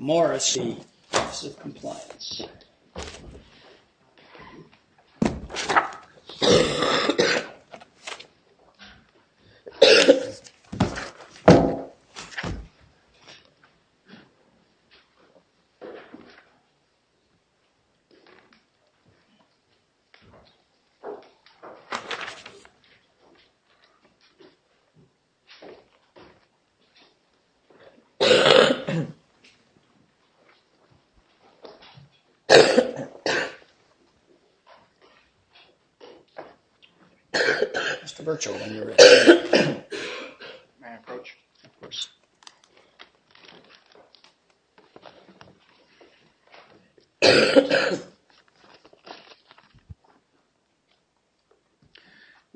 Morrisey, Office of Compliance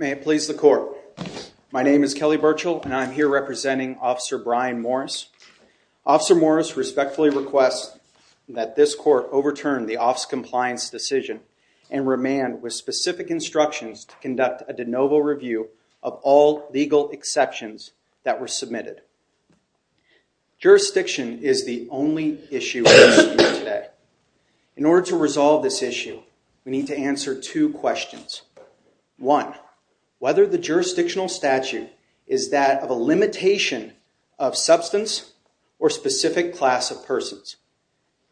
May it please the court, my name is Kelly Burchill and I am here representing Officer Ryan Morris. Officer Morris respectfully requests that this court overturn the Office of Compliance decision and remand with specific instructions to conduct a de novo review of all legal exceptions that were submitted. Jurisdiction is the only issue today. In order to resolve this issue, we need to answer two questions. One, whether the jurisdictional statute is that of a limitation of substance or specific class of persons.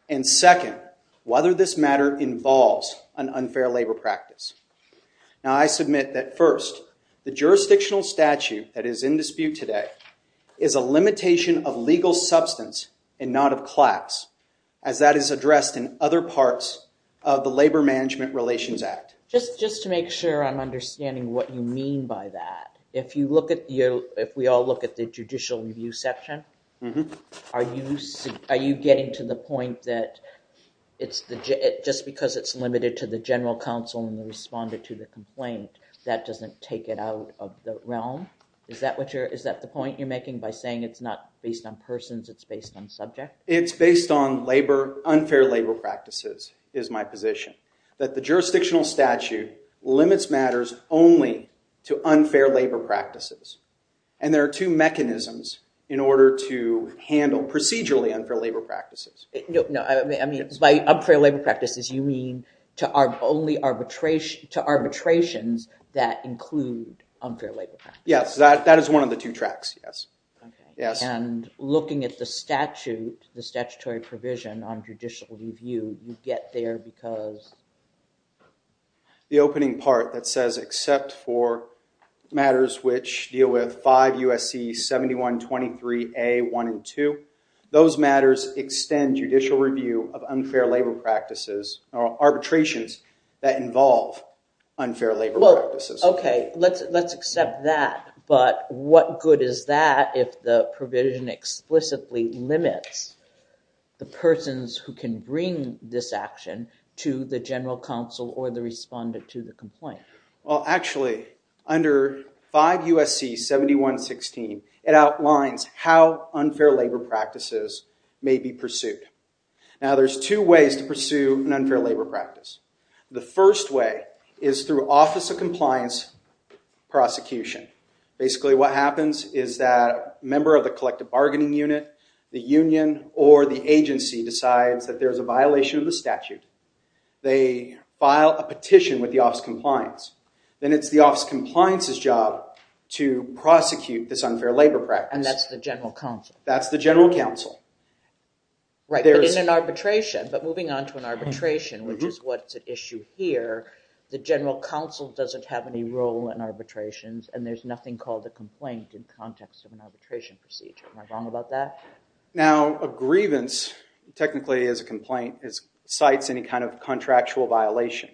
And second, whether this matter involves an unfair labor practice. Now I submit that first, the jurisdictional statute that is in dispute today is a limitation of legal substance and not of class as that is addressed in other parts of the Labor Management Relations Act. Just to make sure I'm understanding what you mean by that, if we all look at the judicial review section, are you getting to the point that just because it's limited to the general counsel and the respondent to the complaint, that doesn't take it out of the realm? Is that the point you're making by saying it's not based on persons, it's based on subject? It's based on unfair labor practices, is my position. That the jurisdictional statute limits matters only to unfair labor practices. And there are two mechanisms in order to handle procedurally unfair labor practices. No, I mean, by unfair labor practices, you mean to arbitrations that include unfair labor practices? Yes, that is one of the two tracks, yes. And looking at the statute, the statutory provision on judicial review, you get there because? The opening part that says except for matters which deal with 5 U.S.C. 7123A.1 and 2, those matters extend judicial review of unfair labor practices or arbitrations that involve unfair labor practices. Well, okay, let's accept that, but what good is that if the provision explicitly limits the persons who can bring this action to the general counsel or the respondent to the complaint? Well, actually, under 5 U.S.C. 7116, it outlines how unfair labor practices may be pursued. Now, there's two ways to pursue an unfair labor practice. The first way is through office of compliance prosecution. Basically, what happens is that a member of the collective bargaining unit, the union, or the agency decides that there's a violation of the statute. They file a petition with the office of compliance. Then it's the office of compliance's job to prosecute this unfair labor practice. And that's the general counsel? That's the general counsel. Right, but in an arbitration, but moving on to an arbitration, which is what's at issue here, the general counsel doesn't have any role in arbitrations, and there's nothing called a complaint in context of an arbitration procedure. Am I wrong about that? Now, a grievance, technically, is a complaint. It cites any kind of contractual violation.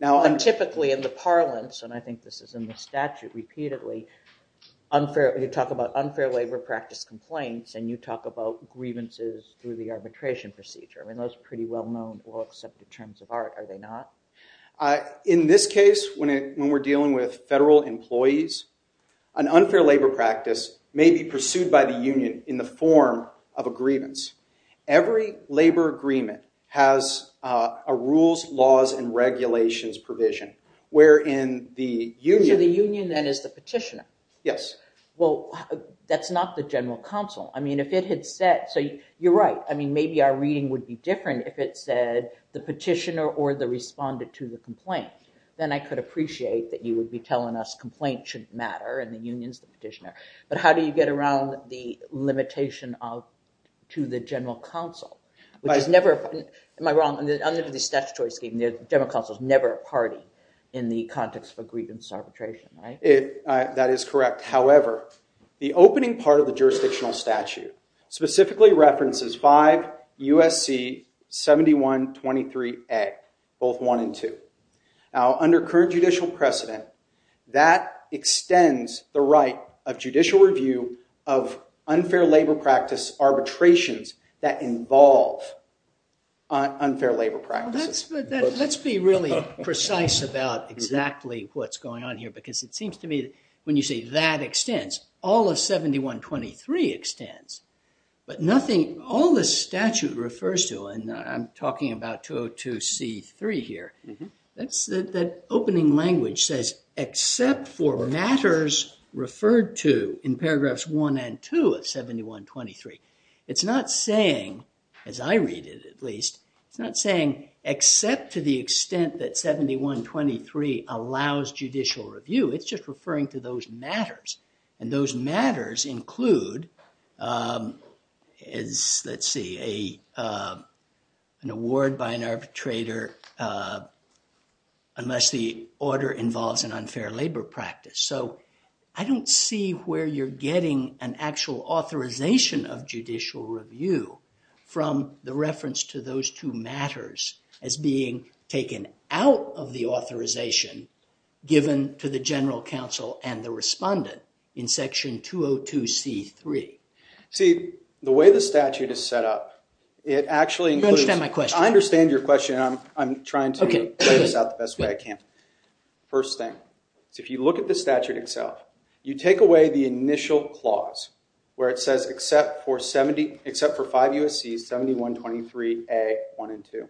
Now, typically, in the parlance, and I think this is in the statute repeatedly, you talk about unfair labor practice complaints, and you talk about grievances through the arbitration procedure. I mean, those are pretty well-known, well-accepted terms of art, are they not? In this case, when we're dealing with federal employees, an unfair labor practice may be pursued by the union in the form of a grievance. Every labor agreement has a rules, laws, and regulations provision, wherein the union- So the union, then, is the petitioner? Yes. Well, that's not the general counsel. I mean, if it had said, so you're right, I mean, maybe our reading would be different if it said the petitioner or the respondent to the complaint. Then I could appreciate that you would be telling us complaint shouldn't matter, and the union's the petitioner. But how do you get around the limitation to the general counsel? Which is never, am I wrong, under the statutory scheme, the general counsel's never a party in the context of a grievance arbitration, right? That is correct. However, the opening part of the jurisdictional statute specifically references 5 U.S.C. 7123A, both 1 and 2. Now, under current judicial precedent, that extends the right of judicial review of unfair labor practice arbitrations that involve unfair labor practices. Now, let's be really precise about exactly what's going on here, because it seems to me that when you say that extends, all of 7123 extends, but nothing, all the statute refers to, and I'm talking about 202C3 here, that opening language says, except for matters referred to in paragraphs 1 and 2 of 7123. It's not saying, as I read it, at least, it's saying, except to the extent that 7123 allows judicial review, it's just referring to those matters. And those matters include, let's see, an award by an arbitrator unless the order involves an unfair labor practice. So, I don't see where you're getting an actual authorization of judicial review from the reference to those two matters as being taken out of the authorization given to the general counsel and the respondent in section 202C3. See, the way the statute is set up, it actually includes... You don't understand my question. I understand your question. I'm trying to lay this out the best way I can. First thing, if you look at the statute itself, you take away the initial clause where it says, except for 5 U.S.C.s, 7123A, 1 and 2,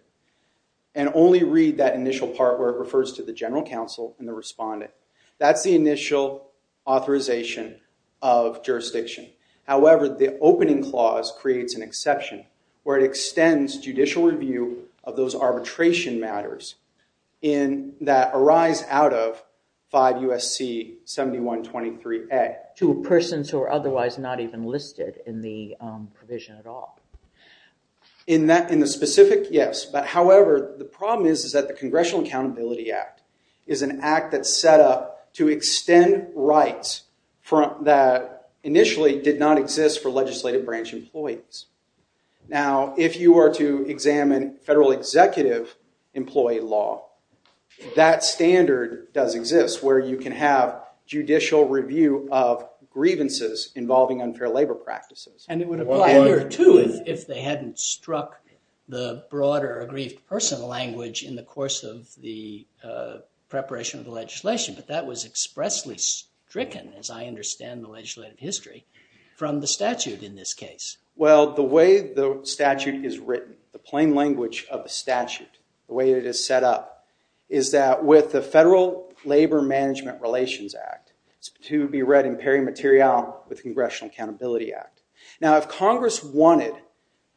and only read that initial part where it refers to the general counsel and the respondent. That's the initial authorization of jurisdiction. However, the opening clause creates an exception where it extends judicial review of those arbitration matters that arise out of 5 U.S.C. 7123A. To persons who are otherwise not even listed in the provision at all. In the specific, yes. However, the problem is that the Congressional Accountability Act is an act that's set up to extend rights that initially did not exist for legislative branch employees. Now, if you were to examine federal executive employee law, that standard does exist where you can have judicial review of grievances involving unfair labor practices. And it would apply here too if they hadn't struck the broader aggrieved person language in the course of the preparation of the legislation. But that was expressly stricken, as I understand in the legislative history, from the statute in this case. Well, the way the statute is written, the plain language of the statute, the way it is set up, is that with the Federal Labor Management Relations Act, to be read in peri materialum with Congressional Accountability Act. Now, if Congress wanted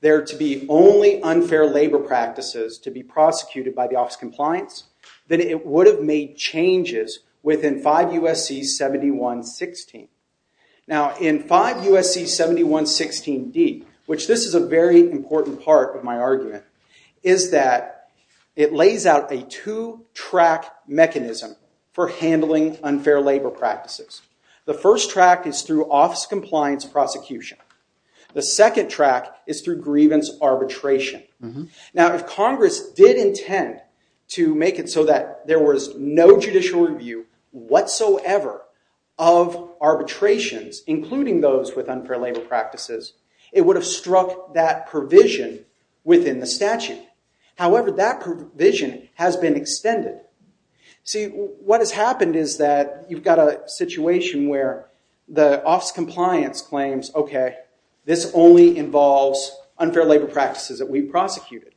there to be only unfair labor practices to be prosecuted by the Office of Compliance, then it would have made changes within 5 U.S.C. 7116. Now, in 5 U.S.C. 7116d, which this is a very important part of my argument, is that it lays out a two-track mechanism for handling unfair labor practices. The first track is through office compliance prosecution. The second track is through grievance arbitration. Now, if Congress did intend to make it so that there was no judicial review whatsoever of arbitrations, including those with unfair labor practices, it would have struck that provision within the statute. However, that provision has been extended. See, what has happened is that you've got a situation where the Office of Compliance claims, okay, this only involves unfair labor practices that we prosecuted.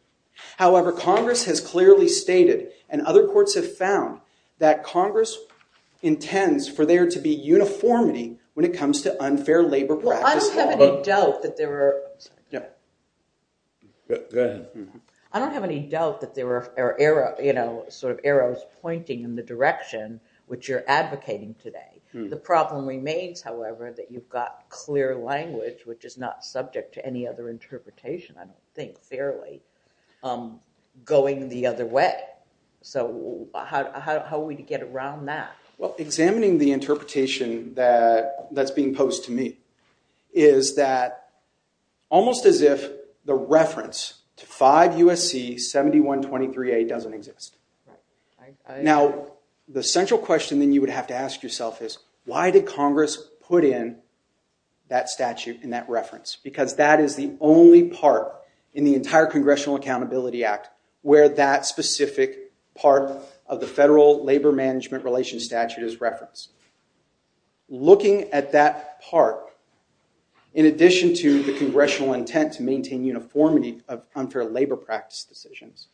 However, Congress has clearly stated, and other courts have found, that Congress intends for there to be uniformity when it comes to unfair labor practices. Well, I don't have any doubt that there were... I'm sorry. Go ahead. I don't have any doubt that there were arrows pointing in the direction which you're advocating today. The problem remains, however, that you've got clear language, which is not subject to any other interpretation, I don't think, fairly, going the other way. So how are we to get around that? Well, examining the interpretation that's being posed to me is that almost as if the reference to 5 U.S.C. 7123A doesn't exist. Now, the central question that you would have to ask yourself is, why did Congress put in that statute and that reference? Because that is the only part in the entire Congressional Accountability Act where that specific part of the federal labor management relations statute is referenced. Looking at that part, in addition to the congressional intent to maintain uniformity of unfair labor practice decisions,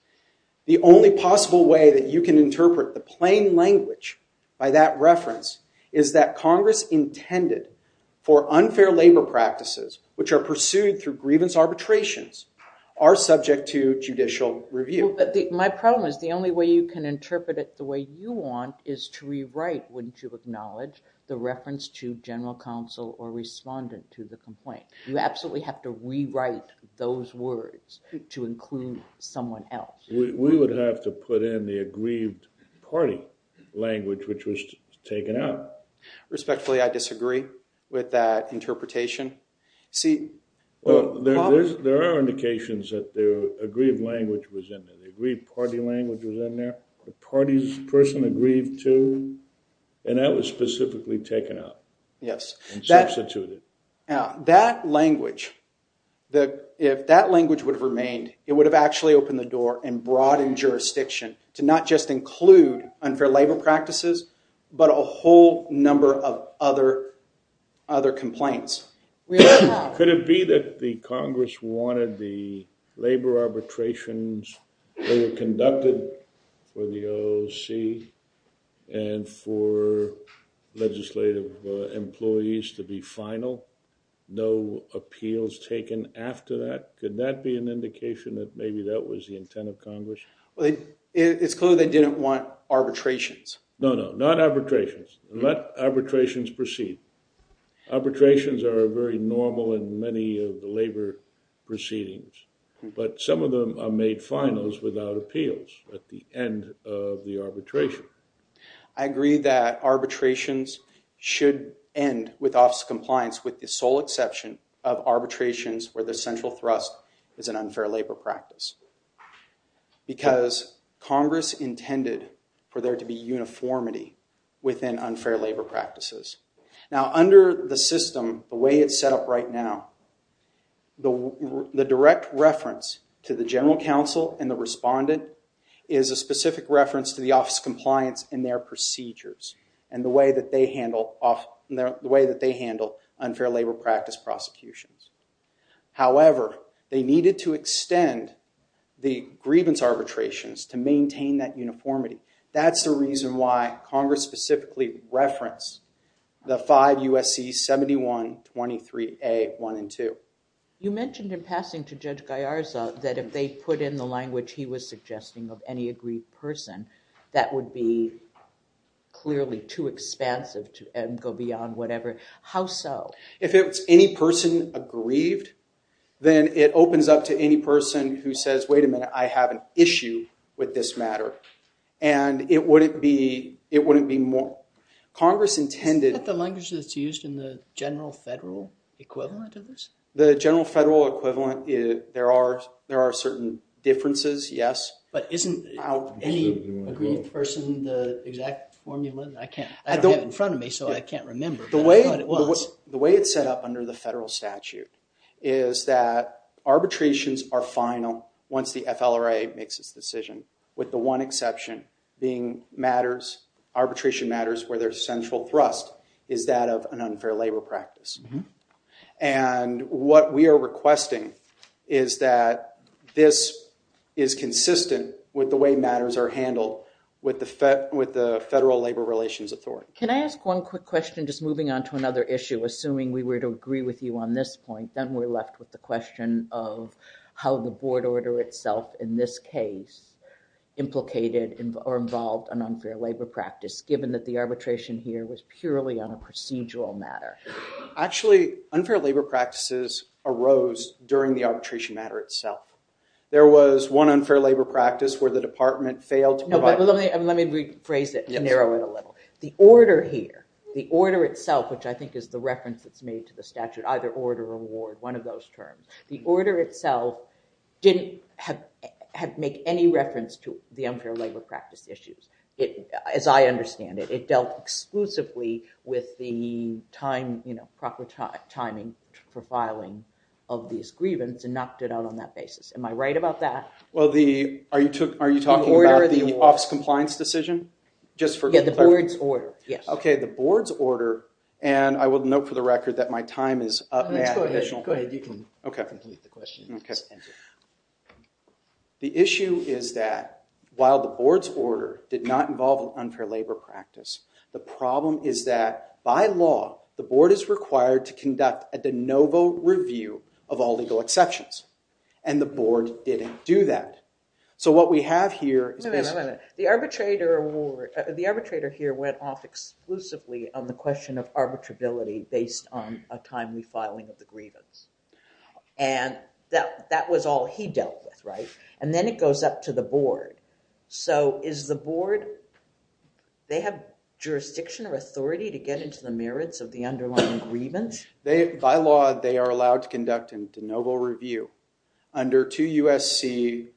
the only possible way that you can interpret the plain language by that reference is that Congress intended for unfair labor practices, which are pursued through grievance arbitrations, are subject to judicial review. My problem is the only way you can interpret it the way you want is to rewrite, wouldn't you acknowledge, the reference to general counsel or respondent to the complaint. You absolutely have to rewrite those words to include someone else. We would have to put in the aggrieved party language, which was taken out. Respectfully, I disagree with that interpretation. See, there are indications that the aggrieved language was in there. The aggrieved party language was in there. The party's person aggrieved too. And that was specifically taken out. Yes. And substituted. Now, that language, if that language would have remained, it would have actually opened the door and broadened jurisdiction to not just include unfair labor practices, but a whole number of other complaints. Could it be that the Congress wanted the labor arbitrations that were conducted for the OOC and for legislative employees to be final, no appeals taken after that? Could that be an indication that maybe that was the intent of Congress? It's clear they didn't want arbitrations. No, no, not arbitrations. Let arbitrations proceed. Arbitrations are very normal in many of the labor proceedings, but some of them are made finals without appeals at the end of the arbitration. I agree that arbitrations should end with office compliance with the sole exception of arbitrations where the central thrust is an unfair labor practice. Because Congress intended for there to be uniformity within unfair labor practices. Now, under the system, the way it's set up right now, the direct reference to the general counsel and the respondent is a specific reference to the office compliance in their procedures and the way that they handle unfair labor practice prosecutions. However, they needed to extend the grievance arbitrations to maintain that uniformity. That's the reason why Congress specifically referenced the five USC 71, 23A, 1, and 2. You mentioned in passing to Judge Gallarza that if they put in the language he was suggesting of any aggrieved person, that would be clearly too expansive to go beyond whatever. How so? If it's any person aggrieved, then it opens up to any person who says, wait a minute, I have an issue with this matter. And it wouldn't be more. Congress intended- Is it used in the general federal equivalent of this? The general federal equivalent, there are certain differences, yes. But isn't any aggrieved person the exact formula? I don't have it in front of me, so I can't remember. The way it's set up under the federal statute is that arbitrations are final once the FLRA makes its decision, with the one exception being arbitration matters where there's central thrust is that of an unfair labor practice. And what we are requesting is that this is consistent with the way matters are handled with the Federal Labor Relations Authority. Can I ask one quick question, just moving on to another issue, assuming we were to agree with you on this point, then we're left with the question of how the board order itself in this case implicated or involved an unfair labor practice, given that the arbitration here was purely on a procedural matter? Actually unfair labor practices arose during the arbitration matter itself. There was one unfair labor practice where the department failed to provide- No, but let me rephrase it and narrow it a little. The order here, the order itself, which I think is the reference that's made to the statute, either order or award, one of those terms, the order itself didn't make any reference to the unfair labor practice issues. As I understand it, it dealt exclusively with the proper timing for filing of these grievance and knocked it out on that basis. Am I right about that? Well, are you talking about the office compliance decision? Just for clarification. Yeah, the board's order, yes. Okay, the board's order, and I will note for the record that my time is up, I have an additional- Go ahead, you can complete the question. Okay. The issue is that while the board's order did not involve an unfair labor practice, the problem is that by law, the board is required to conduct a de novo review of all legal exceptions, and the board didn't do that. So what we have here is basically- The arbitrator award, the arbitrator here went off exclusively on the question of arbitrability based on a timely filing of the grievance, and that was all he dealt with, right? And then it goes up to the board. So is the board, they have jurisdiction or authority to get into the merits of the underlying grievance? By law, they are allowed to conduct a de novo review under 2 U.S.C.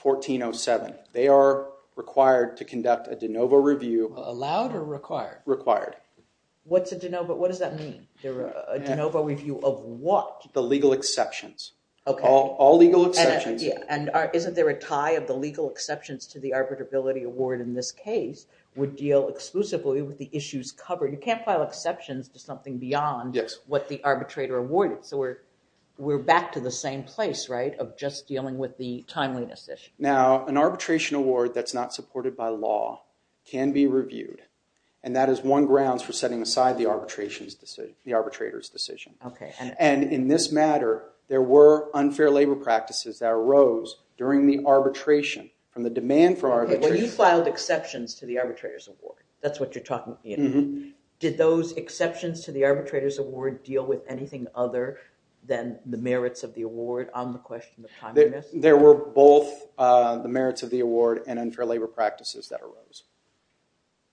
1407. They are required to conduct a de novo review- Allowed or required? Required. What's a de novo? What does that mean? A de novo review of what? The legal exceptions. All legal exceptions. And isn't there a tie of the legal exceptions to the arbitrability award in this case would deal exclusively with the issues covered? You can't file exceptions to something beyond what the arbitrator awarded. So we're back to the same place, right, of just dealing with the timeliness issue. Now, an arbitration award that's not supported by law can be reviewed, and that is one grounds for setting aside the arbitrator's decision. And in this matter, there were unfair labor practices that arose during the arbitration from the demand for arbitration- When you filed exceptions to the arbitrator's award, that's what you're talking about. Did those exceptions to the arbitrator's award deal with anything other than the merits of the award on the question of timeliness? There were both the merits of the award and unfair labor practices that arose.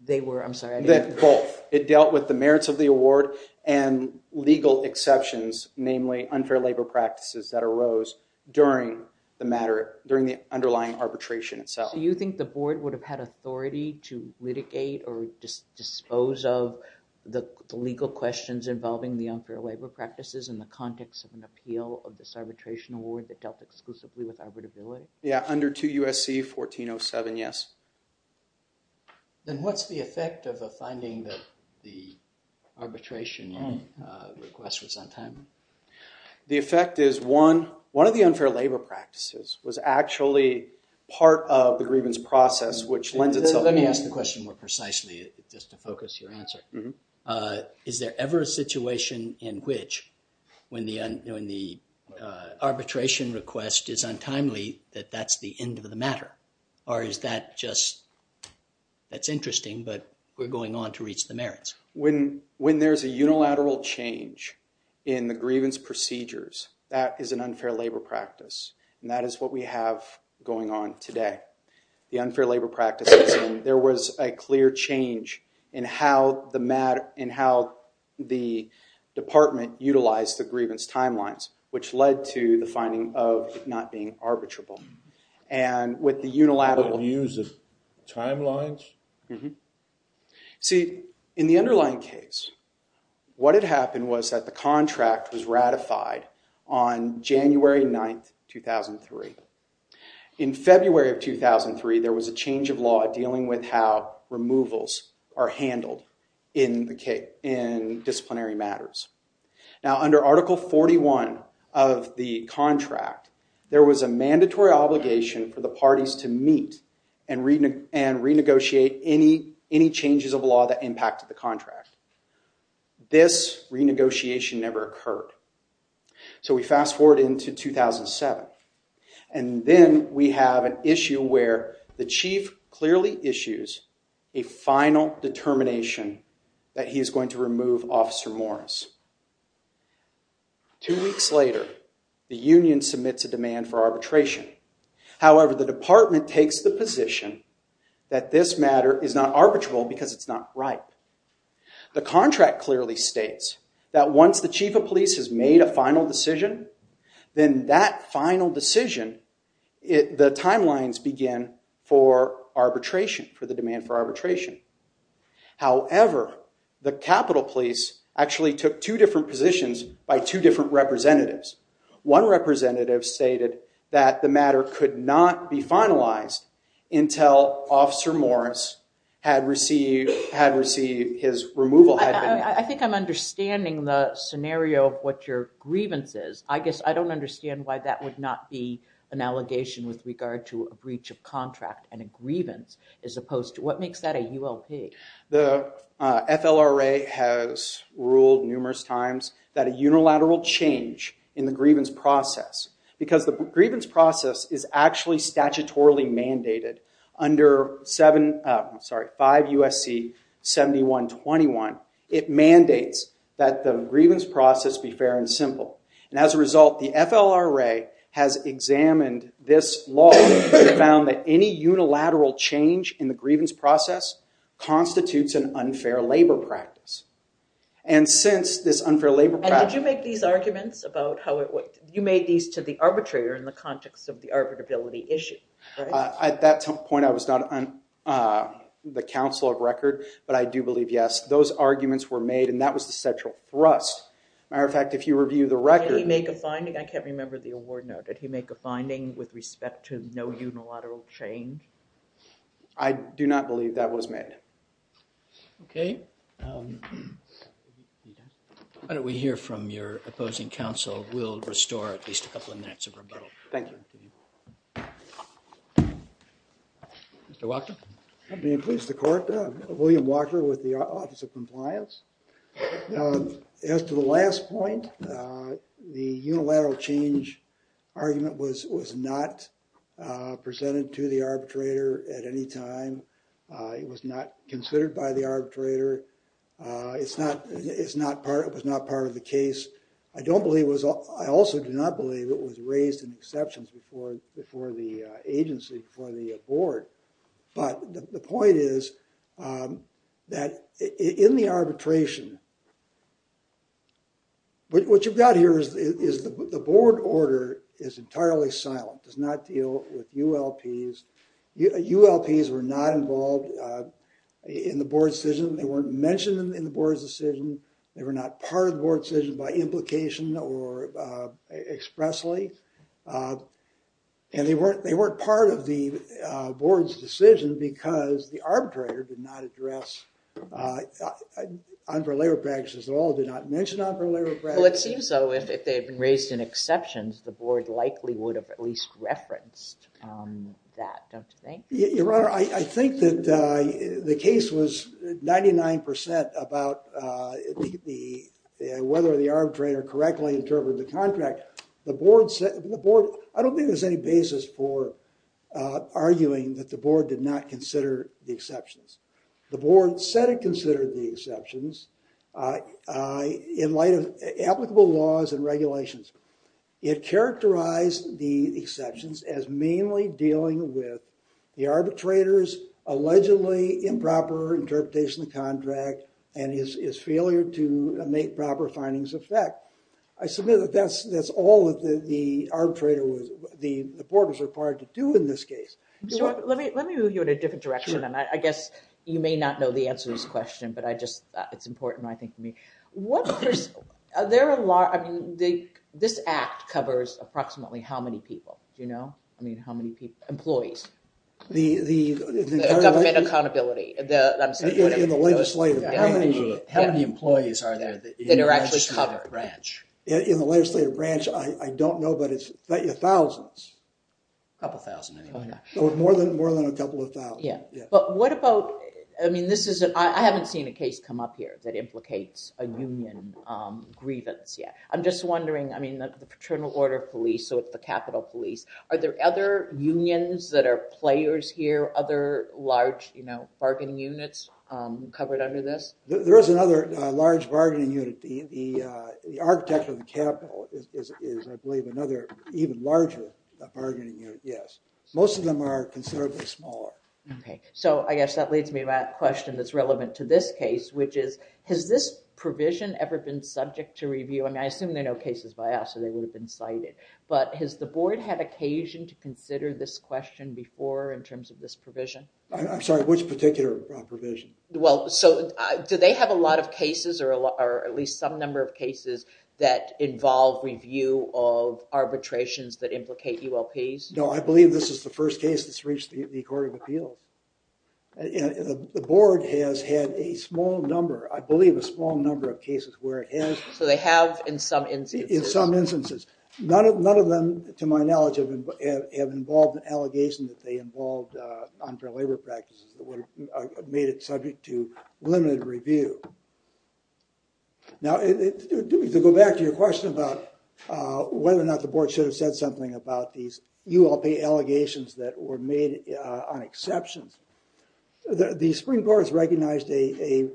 They were, I'm sorry- Both. It dealt with the merits of the award and legal exceptions, namely unfair labor practices that arose during the matter, during the underlying arbitration itself. So you think the board would have had authority to litigate or just dispose of the legal questions involving the unfair labor practices in the context of an appeal of this arbitration award that dealt exclusively with arbitrability? Yeah, under 2 U.S.C. 1407, yes. Then what's the effect of a finding that the arbitration request was on time? The effect is, one of the unfair labor practices was actually part of the grievance process, which lends itself- Let me ask the question more precisely, just to focus your answer. Is there ever a situation in which when the arbitration request is untimely, that that's the end of the matter? Or is that just, that's interesting, but we're going on to reach the merits? When there's a unilateral change in the grievance procedures, that is an unfair labor practice. That is what we have going on today. The unfair labor practices, there was a clear change in how the department utilized the grievance timelines, which led to the finding of not being arbitrable. And with the unilateral- Use of timelines? See, in the underlying case, what had happened was that the contract was ratified on January 9th, 2003. In February of 2003, there was a change of law dealing with how removals are handled in disciplinary matters. Now, under Article 41 of the contract, there was a mandatory obligation for the parties to meet and renegotiate any changes of law that impacted the contract. This renegotiation never occurred. So we fast forward into 2007, and then we have an issue where the chief clearly issues a final determination that he is going to remove Officer Morris. Two weeks later, the union submits a demand for arbitration. However, the department takes the position that this matter is not arbitrable because it's not right. The contract clearly states that once the chief of police has made a final decision, then that final decision, the timelines begin for arbitration, for the demand for arbitration. However, the Capitol police actually took two different positions by two different representatives. One representative stated that the matter could not be finalized until Officer Morris had received his removal- I think I'm understanding the scenario of what your grievance is. I guess I don't understand why that would not be an allegation with regard to a breach of contract and a grievance as opposed to- what makes that a ULP? The FLRA has ruled numerous times that a unilateral change in the grievance process, because the grievance process is actually statutorily mandated under 5 U.S.C. 7121, it mandates that the grievance process be fair and simple. And as a result, the FLRA has examined this law and found that any unilateral change in the grievance process constitutes an unfair labor practice. And since this unfair labor- And did you make these arguments about how it- you made these to the arbitrator in the context of the arbitrability issue, right? At that point, I was not on the council of record, but I do believe, yes, those arguments were made and that was the central thrust. Matter of fact, if you review the record- Did he make a finding? I can't remember the award note. Did he make a finding with respect to no unilateral change? I do not believe that was made. Okay. Why don't we hear from your opposing counsel? We'll restore at least a couple of minutes of rebuttal. Thank you. Mr. Walker? I'm pleased to court, William Walker with the Office of Compliance. As to the last point, the unilateral change argument was not presented to the arbitrator at any time. It was not considered by the arbitrator. It's not- it's not part- it was not part of the case. I don't believe it was- I also do not believe it was raised in exceptions before the agency, before the board. But the point is that in the arbitration- what you've got here is the board order is entirely silent, does not deal with ULPs. ULPs were not involved in the board's decision. They weren't mentioned in the board's decision. They were not part of the board's decision by implication or expressly. And they weren't- they weren't part of the board's decision because the arbitrator did not address unfair labor practices at all, did not mention unfair labor practices. Well, it seems so. If they had been raised in exceptions, the board likely would have at least referenced that, don't you think? Your Honor, I think that the case was 99% about the- whether the arbitrator correctly interpreted the contract. The board said- the board- I don't think there's any basis for arguing that the board did not consider the exceptions. The board said it considered the exceptions in light of applicable laws and regulations. It characterized the exceptions as mainly dealing with the arbitrator's allegedly improper interpretation of the contract and his failure to make proper findings of fact. I submit that that's all that the arbitrator was- the Let me move you in a different direction, and I guess you may not know the answer to this question, but I just- it's important, I think, for me. What- there are a lot- I mean, this act covers approximately how many people, do you know? I mean, how many people- employees. The government accountability. How many employees are there that are actually covered? In the legislative branch, I don't know, but it's thousands. A couple thousand. More than- more than a couple of thousand. Yeah, but what about- I mean, this isn't- I haven't seen a case come up here that implicates a union grievance yet. I'm just wondering, I mean, the paternal order of police, so if the capital police- are there other unions that are players here? Other large, you know, bargaining units covered under this? There is another large bargaining unit. The is, I believe, another even larger bargaining unit, yes. Most of them are considerably smaller. Okay, so I guess that leads me to that question that's relevant to this case, which is, has this provision ever been subject to review? I mean, I assume they know cases by us, so they would have been cited, but has the board had occasion to consider this question before, in terms of this provision? I'm sorry, which particular provision? Well, so do they have a number of cases that involve review of arbitrations that implicate ULPs? No, I believe this is the first case that's reached the Court of Appeals. The board has had a small number, I believe, a small number of cases where it has- So they have, in some instances. In some instances. None of them, to my knowledge, have involved an allegation that they involved unfair labor practices that made it subject to limited review. Now, to go back to your question about whether or not the board should have said something about these ULP allegations that were made on exceptions, the Supreme Court has recognized a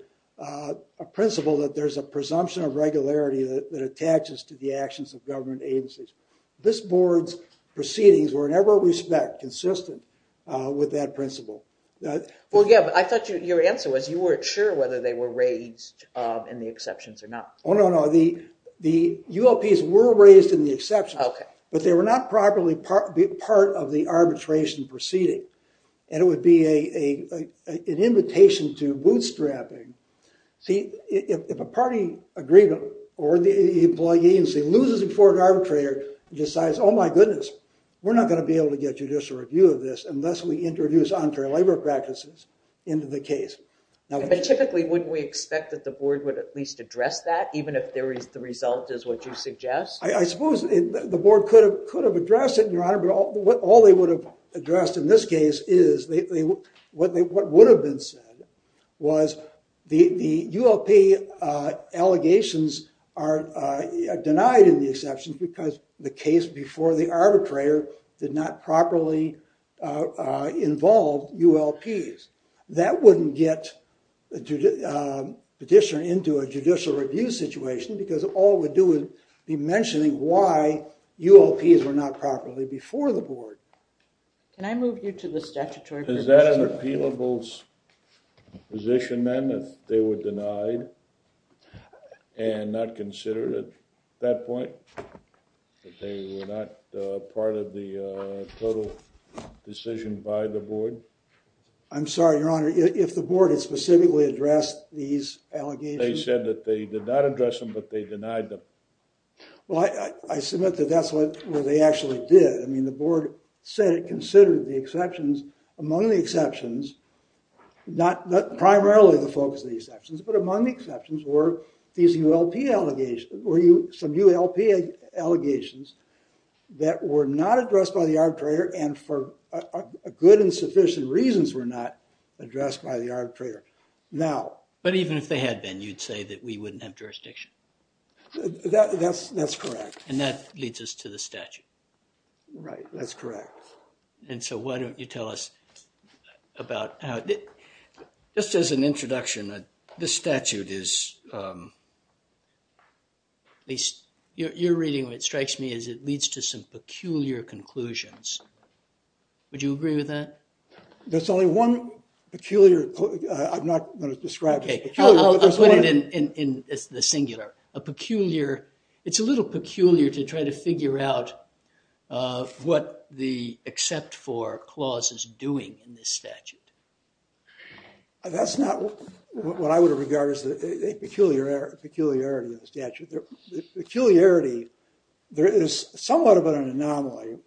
principle that there's a presumption of regularity that attaches to the actions of government agencies. This board's proceedings were in every respect consistent with that principle. Well, yeah, but I thought your answer was you weren't sure whether they were raised in the exceptions or not. Oh, no, no. The ULPs were raised in the exceptions, but they were not properly part of the arbitration proceeding, and it would be an invitation to bootstrapping. See, if a party agreement or the employee agency loses before an arbitrator and decides, oh, my goodness, we're not going to be able to get judicial review of this unless we introduce untrue labor practices into the case. But typically, wouldn't we expect that the board would at least address that, even if the result is what you suggest? I suppose the board could have addressed it, Your Honor, but all they would have addressed in this case is what would have been said was the ULP allegations are in the exceptions because the case before the arbitrator did not properly involve ULPs. That wouldn't get a petitioner into a judicial review situation because all it would do is be mentioning why ULPs were not properly before the board. Can I move you to the statutory position? Is that an appealable position, then, that they were denied and not considered at that point, that they were not part of the total decision by the board? I'm sorry, Your Honor, if the board had specifically addressed these allegations? They said that they did not address them, but they denied them. Well, I submit that that's what they actually did. I mean, the board said it considered the exceptions. Among the exceptions, not primarily the focus of the exceptions, but among the exceptions were these ULP allegations that were not addressed by the arbitrator and for good and sufficient reasons were not addressed by the arbitrator. But even if they had been, you'd say that we wouldn't have jurisdiction? That's correct. And that leads us to the statute? Right, that's correct. And so why don't you tell us about how, just as an introduction, this statute is, at least your reading of it strikes me as it leads to some peculiar conclusions. Would you agree with that? There's only one peculiar, I'm not going to describe it. Okay, I'll put it in the singular. A peculiar, it's a little peculiar to try to figure out what the except for clause is doing in this statute. That's not what I would regard as a peculiarity of the statute. The peculiarity, there is somewhat of an anomaly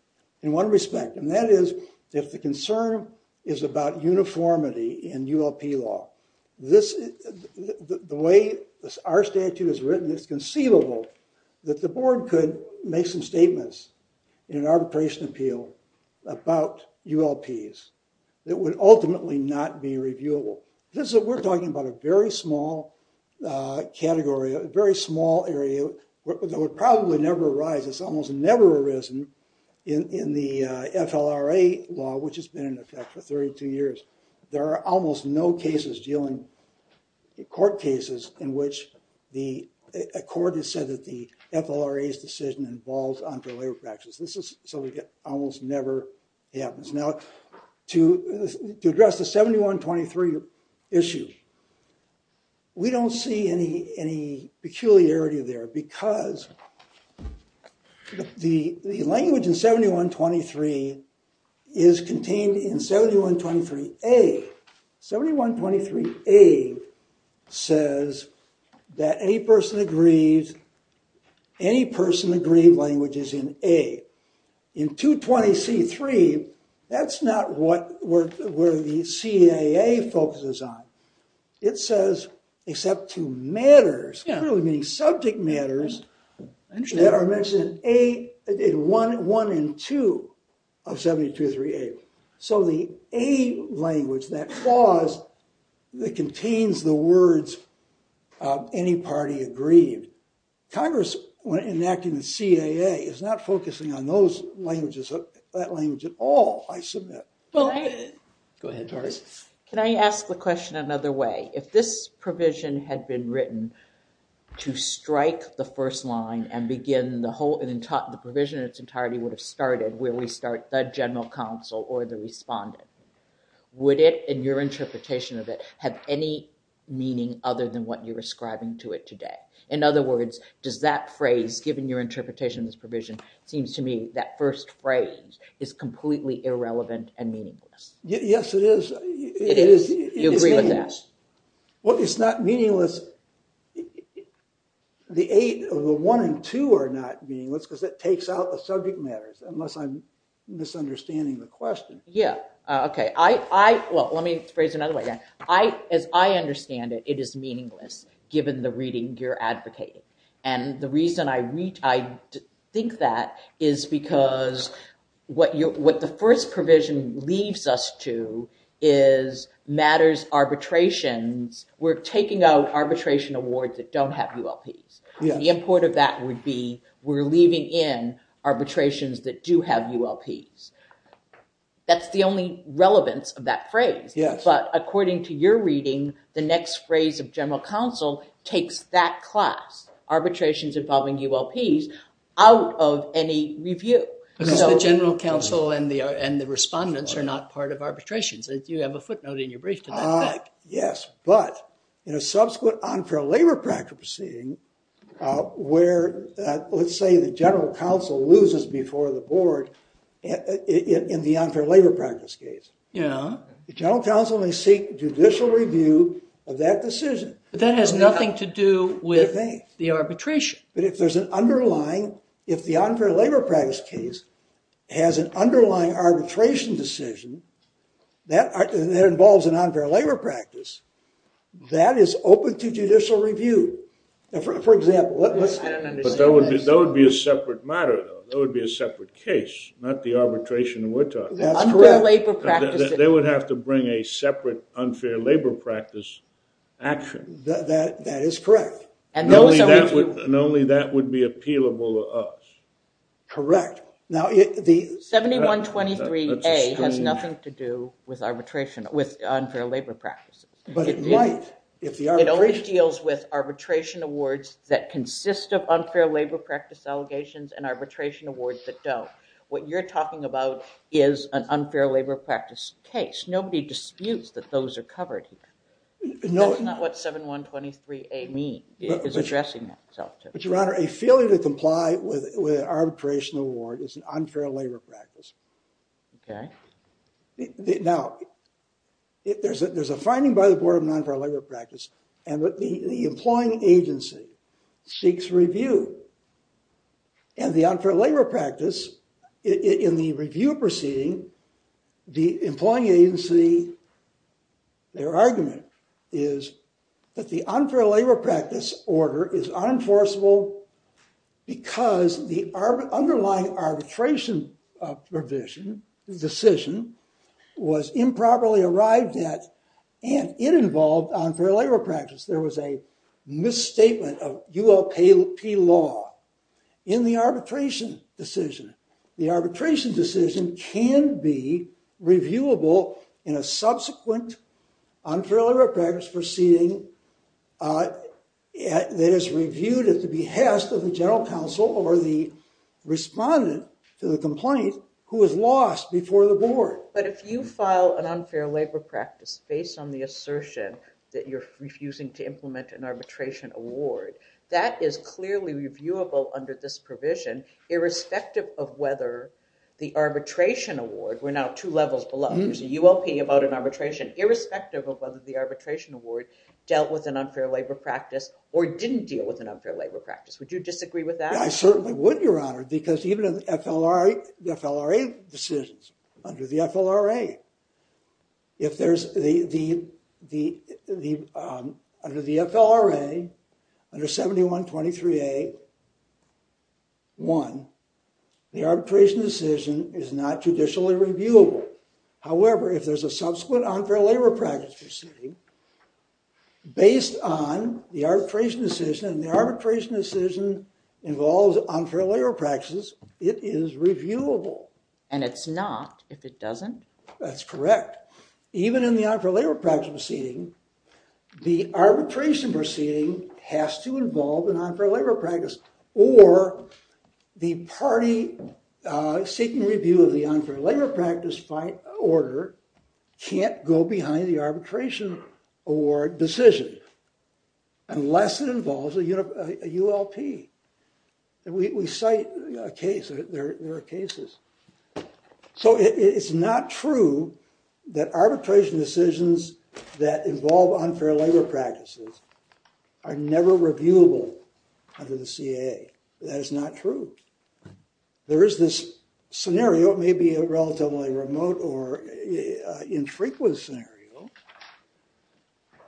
in one respect, and that is if the concern is about uniformity in ULP law. The way our statute is written, it's conceivable that the board could make some statements in an arbitration appeal about ULPs that would ultimately not be reviewable. This is, we're talking about a very small category, a very small area that would probably never arise. It's almost no cases dealing, court cases, in which a court has said that the FLRA's decision involves entourage practices. This is something that almost never happens. Now, to address the 7123 issue, we don't see any peculiarity there because the language in 7123 is contained in 7123a, 7123a says that any person agrees, any person agreed language is in a. In 220c3, that's not where the CAA focuses on. It says, except to matters, clearly meaning subject matters, that are mentioned in 1 and 2 of 7123a. So the a language, that clause that contains the words any party agreed. Congress, when enacting the CAA, is not focusing on those languages, that language at all, I submit. Go ahead, Doris. Can I ask the question another way? If this line and begin the whole, the provision in its entirety would have started where we start the general counsel or the respondent, would it, in your interpretation of it, have any meaning other than what you're ascribing to it today? In other words, does that phrase, given your interpretation of this provision, seems to me that first phrase is completely irrelevant and meaningless? Yes, it is. It is. You agree with that? Well, it's not meaningless. The 8 of the 1 and 2 are not meaningless because it takes out the subject matters, unless I'm misunderstanding the question. Yeah, okay. I, well, let me phrase it another way. I, as I understand it, it is meaningless, given the reading you're advocating. And the reason I reach, I think that is because what you, what the first provision leaves us to is matters arbitrations. We're taking out arbitration awards that don't have ULPs. The import of that would be we're leaving in arbitrations that do have ULPs. That's the only relevance of that phrase. But according to your reading, the next phrase of general counsel takes that class, arbitrations involving ULPs, out of any review. Because the general counsel and the respondents are not part of arbitrations. You have a footnote in your brief to that effect. Yes, but in a subsequent unfair labor practice proceeding, where let's say the general counsel loses before the board in the unfair labor practice case. Yeah. The general counsel may seek judicial review of that decision. But that has nothing to do with the arbitration. But if there's an underlying, if the unfair labor practice case has an underlying arbitration decision that involves an unfair labor practice, that is open to judicial review. For example, let's. But that would be a separate matter though. That would be a separate case, not the arbitration we're talking about. That's correct. They would have to bring a separate unfair labor practice action. That is correct. And only that would be appealable to us. Correct. Now the 7123A has nothing to do with arbitration, with unfair labor practice. But it might. It only deals with arbitration awards that consist of unfair labor practice allegations and arbitration awards that don't. What you're talking about is an unfair labor practice case. Nobody disputes that those are covered here. No. That's not what 7123A means. It is addressing that. But your honor, a failure to comply with an arbitration award is an unfair labor practice. Okay. Now there's a finding by the board of non-fair labor practice and the employing agency seeks review. And the unfair labor practice in the review proceeding the employing agency, their argument is that the unfair labor practice order is unenforceable because the underlying arbitration provision decision was improperly arrived at and it involved unfair labor practice. There was a misstatement of ULP law in the arbitration decision. The arbitration decision can be reviewable in a subsequent unfair labor practice proceeding that is reviewed at the behest of the general counsel or the respondent to the complaint who is lost before the board. But if you file an unfair labor practice based on the assertion that you're refusing to implement an arbitration award, that is clearly reviewable under this decision irrespective of whether the arbitration award, we're now two levels below, there's a ULP about an arbitration, irrespective of whether the arbitration award dealt with an unfair labor practice or didn't deal with an unfair labor practice. Would you disagree with that? I certainly would, your honor, because even in the FLRA decisions, under the FLRA, if there's the under the FLRA under 7123a one, the arbitration decision is not judicially reviewable. However, if there's a subsequent unfair labor practice proceeding based on the arbitration decision and the arbitration decision involves unfair labor practices, it is reviewable. And it's not if it doesn't? That's correct. Even in the unfair labor practice proceeding, the arbitration proceeding has to involve an unfair labor practice or the party seeking review of the unfair labor practice by order can't go behind the arbitration award decision unless it involves a ULP. We cite a case, there are cases. So it's not true that arbitration decisions that involve unfair labor practices are never reviewable under the CAA. That is not true. There is this scenario, it may be a relatively remote or unknown scenario,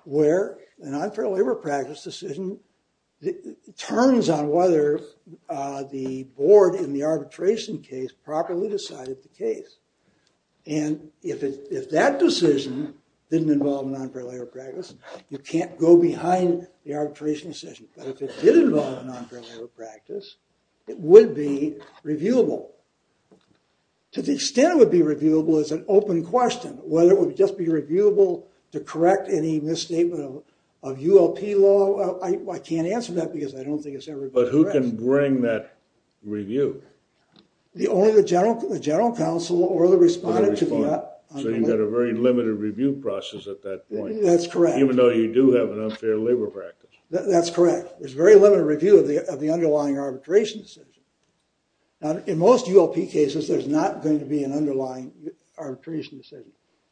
where an unfair labor practice decision turns on whether the board in the arbitration case properly decided the case. And if that decision didn't involve an unfair labor practice, you can't go behind the arbitration decision. But if it did involve an unfair labor practice, it would be reviewable. To the extent it would be reviewable is an open question, whether it would just be reviewable to correct any misstatement of ULP law. I can't answer that because I don't think it's ever been addressed. But who can bring that review? Only the general counsel or the respondent. So you've got a very limited review process at that point. That's correct. Even though you do have an unfair labor practice. That's correct. There's very limited review of the underlying arbitration decision. In most ULP cases, there's not going to be an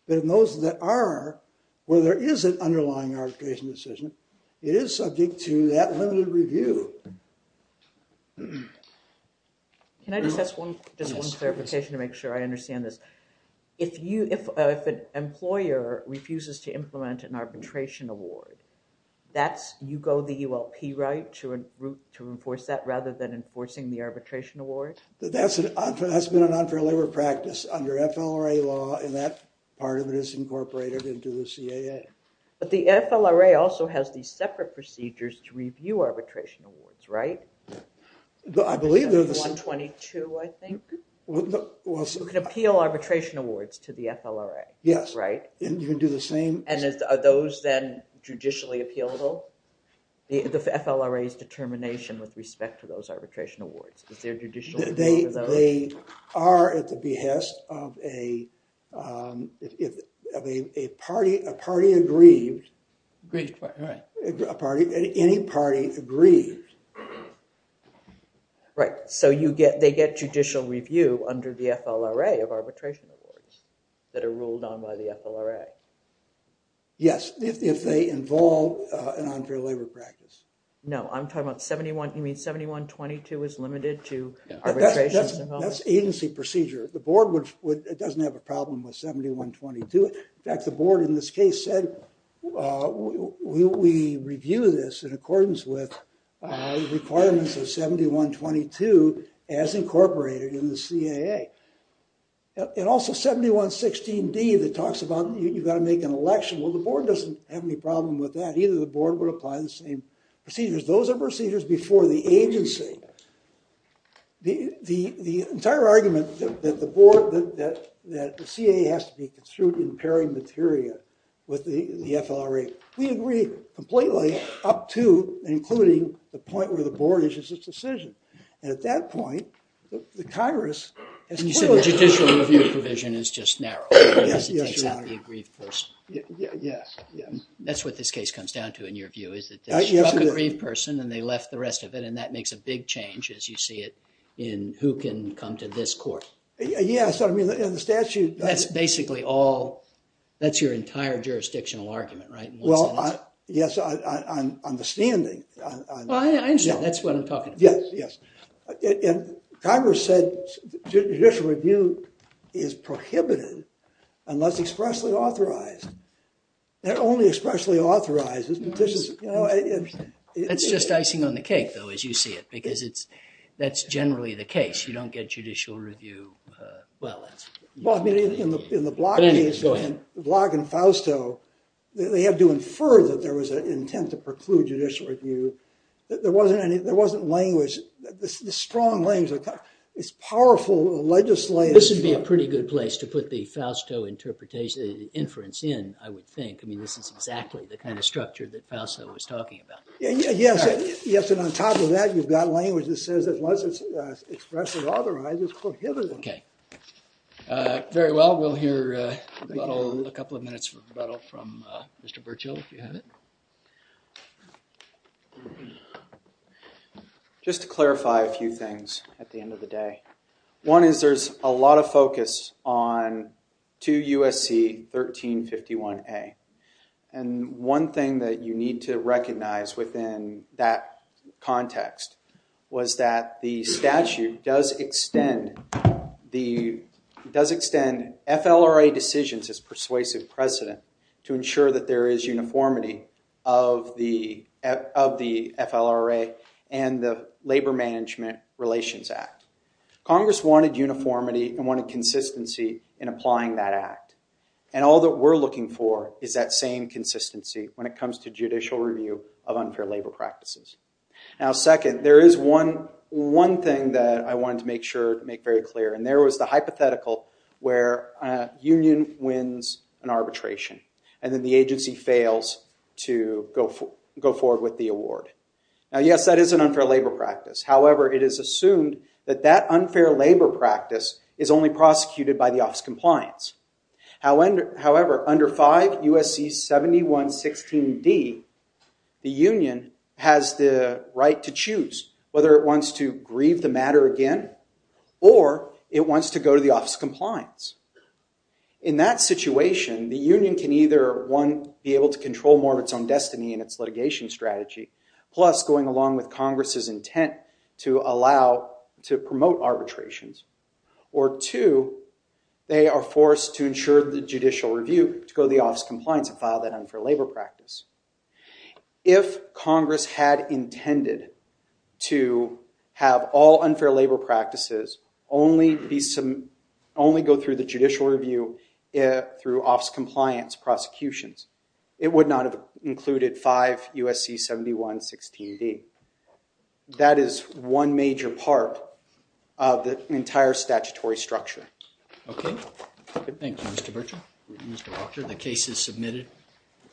but in those that are, where there is an underlying arbitration decision, it is subject to that limited review. Can I just ask one, just one clarification to make sure I understand this. If you, if an employer refuses to implement an arbitration award, that's, you go the ULP right to a route to enforce that rather than enforcing the arbitration award? That's an, that's been an unfair labor practice under FLRA law and that part of it is incorporated into the CAA. But the FLRA also has these separate procedures to review arbitration awards, right? I believe they're the 122, I think. You can appeal arbitration awards to the FLRA. Yes. Right. And you can do the same. And are those then judicially appealable? The FLRA's determination with respect to those arbitration awards, they are at the behest of a, of a party, a party aggrieved, a party, any party aggrieved. Right, so you get, they get judicial review under the FLRA of arbitration awards that are ruled on by the FLRA. Yes, if they involve an unfair labor practice. No, I'm talking about 71, you mean 7122 is limited to arbitration? That's agency procedure. The board would, it doesn't have a problem with 7122. In fact, the board in this case said we review this in accordance with requirements of 7122 as incorporated in the CAA. And also 7116D that talks about you got to make an election. Well, the board doesn't have any problem with that. Either the board would apply the same procedures. Those are procedures before the agency. The, the, the entire argument that the board, that, that the CAA has to be construed in pairing material with the FLRA, we agree completely up to and including the point where the board issues its decision. And at that point, the Congress. And you said the judicial review provision is just narrow. Yes. That's what this case comes down to in your view, is that they struck a grieved person and they left the rest of it. And that makes a big change as you see it in who can come to this court. Yes. I mean, in the statute. That's basically all, that's your entire jurisdictional argument, right? Well, yes, I'm understanding. I understand. That's what I'm talking about. Yes, yes. And Congress said judicial review is prohibited unless expressly authorized. They're only expressly authorized. It's just icing on the cake, though, as you see it, because it's, that's generally the case. You don't get judicial review well. Well, I mean, in the, in the Block case, Block and Fausto, they have to infer that there was an intent to preclude judicial review. There wasn't any, there wasn't language, the strong language. It's powerful legislative. This would be a pretty good place to put the Fausto interpretation, inference in, I would think. I mean, this is exactly the kind of structure that Fausto was talking about. Yes. Yes. And on top of that, you've got language that says unless it's expressly authorized, it's prohibited. Okay. Very well. We'll hear a couple of minutes rebuttal from Mr. Bertschill, if you have it. Just to clarify a few things at the end of the day. One is there's a lot of focus on 2 U.S.C. 1351A. And one thing that you need to recognize within that context was that the statute does extend the, does extend FLRA decisions as persuasive precedent to ensure that there is uniformity of the, of the FLRA and the Labor Management Relations Act. Congress wanted uniformity and wanted consistency in applying that act. And all that we're looking for is that same consistency when it comes to judicial review of unfair labor practices. Now, second, there is one, one thing that I wanted to make sure to make very clear, and there was the hypothetical where a union wins an arbitration and then the agency fails to go for, go forward with the award. Now, yes, that is an unfair labor practice. However, it is assumed that that unfair labor practice is only prosecuted by the office compliance. However, under 5 U.S.C. 7116D, the union has the right to choose whether it wants to grieve the matter again or it wants to go to the office of compliance. In that situation, the union can either, one, be able to control more of its own destiny in its litigation strategy, plus going along with Congress's intent to allow, to promote arbitrations, or two, they are forced to ensure the judicial review to go to the office of compliance and file that unfair labor practice. If Congress had intended to have all unfair labor practices only be, only go through the judicial review through office compliance prosecutions, it would not have included 5 U.S.C. 7116D. That is one major part of the entire statutory structure. Okay. Thank you, Mr. Berger. The case is submitted.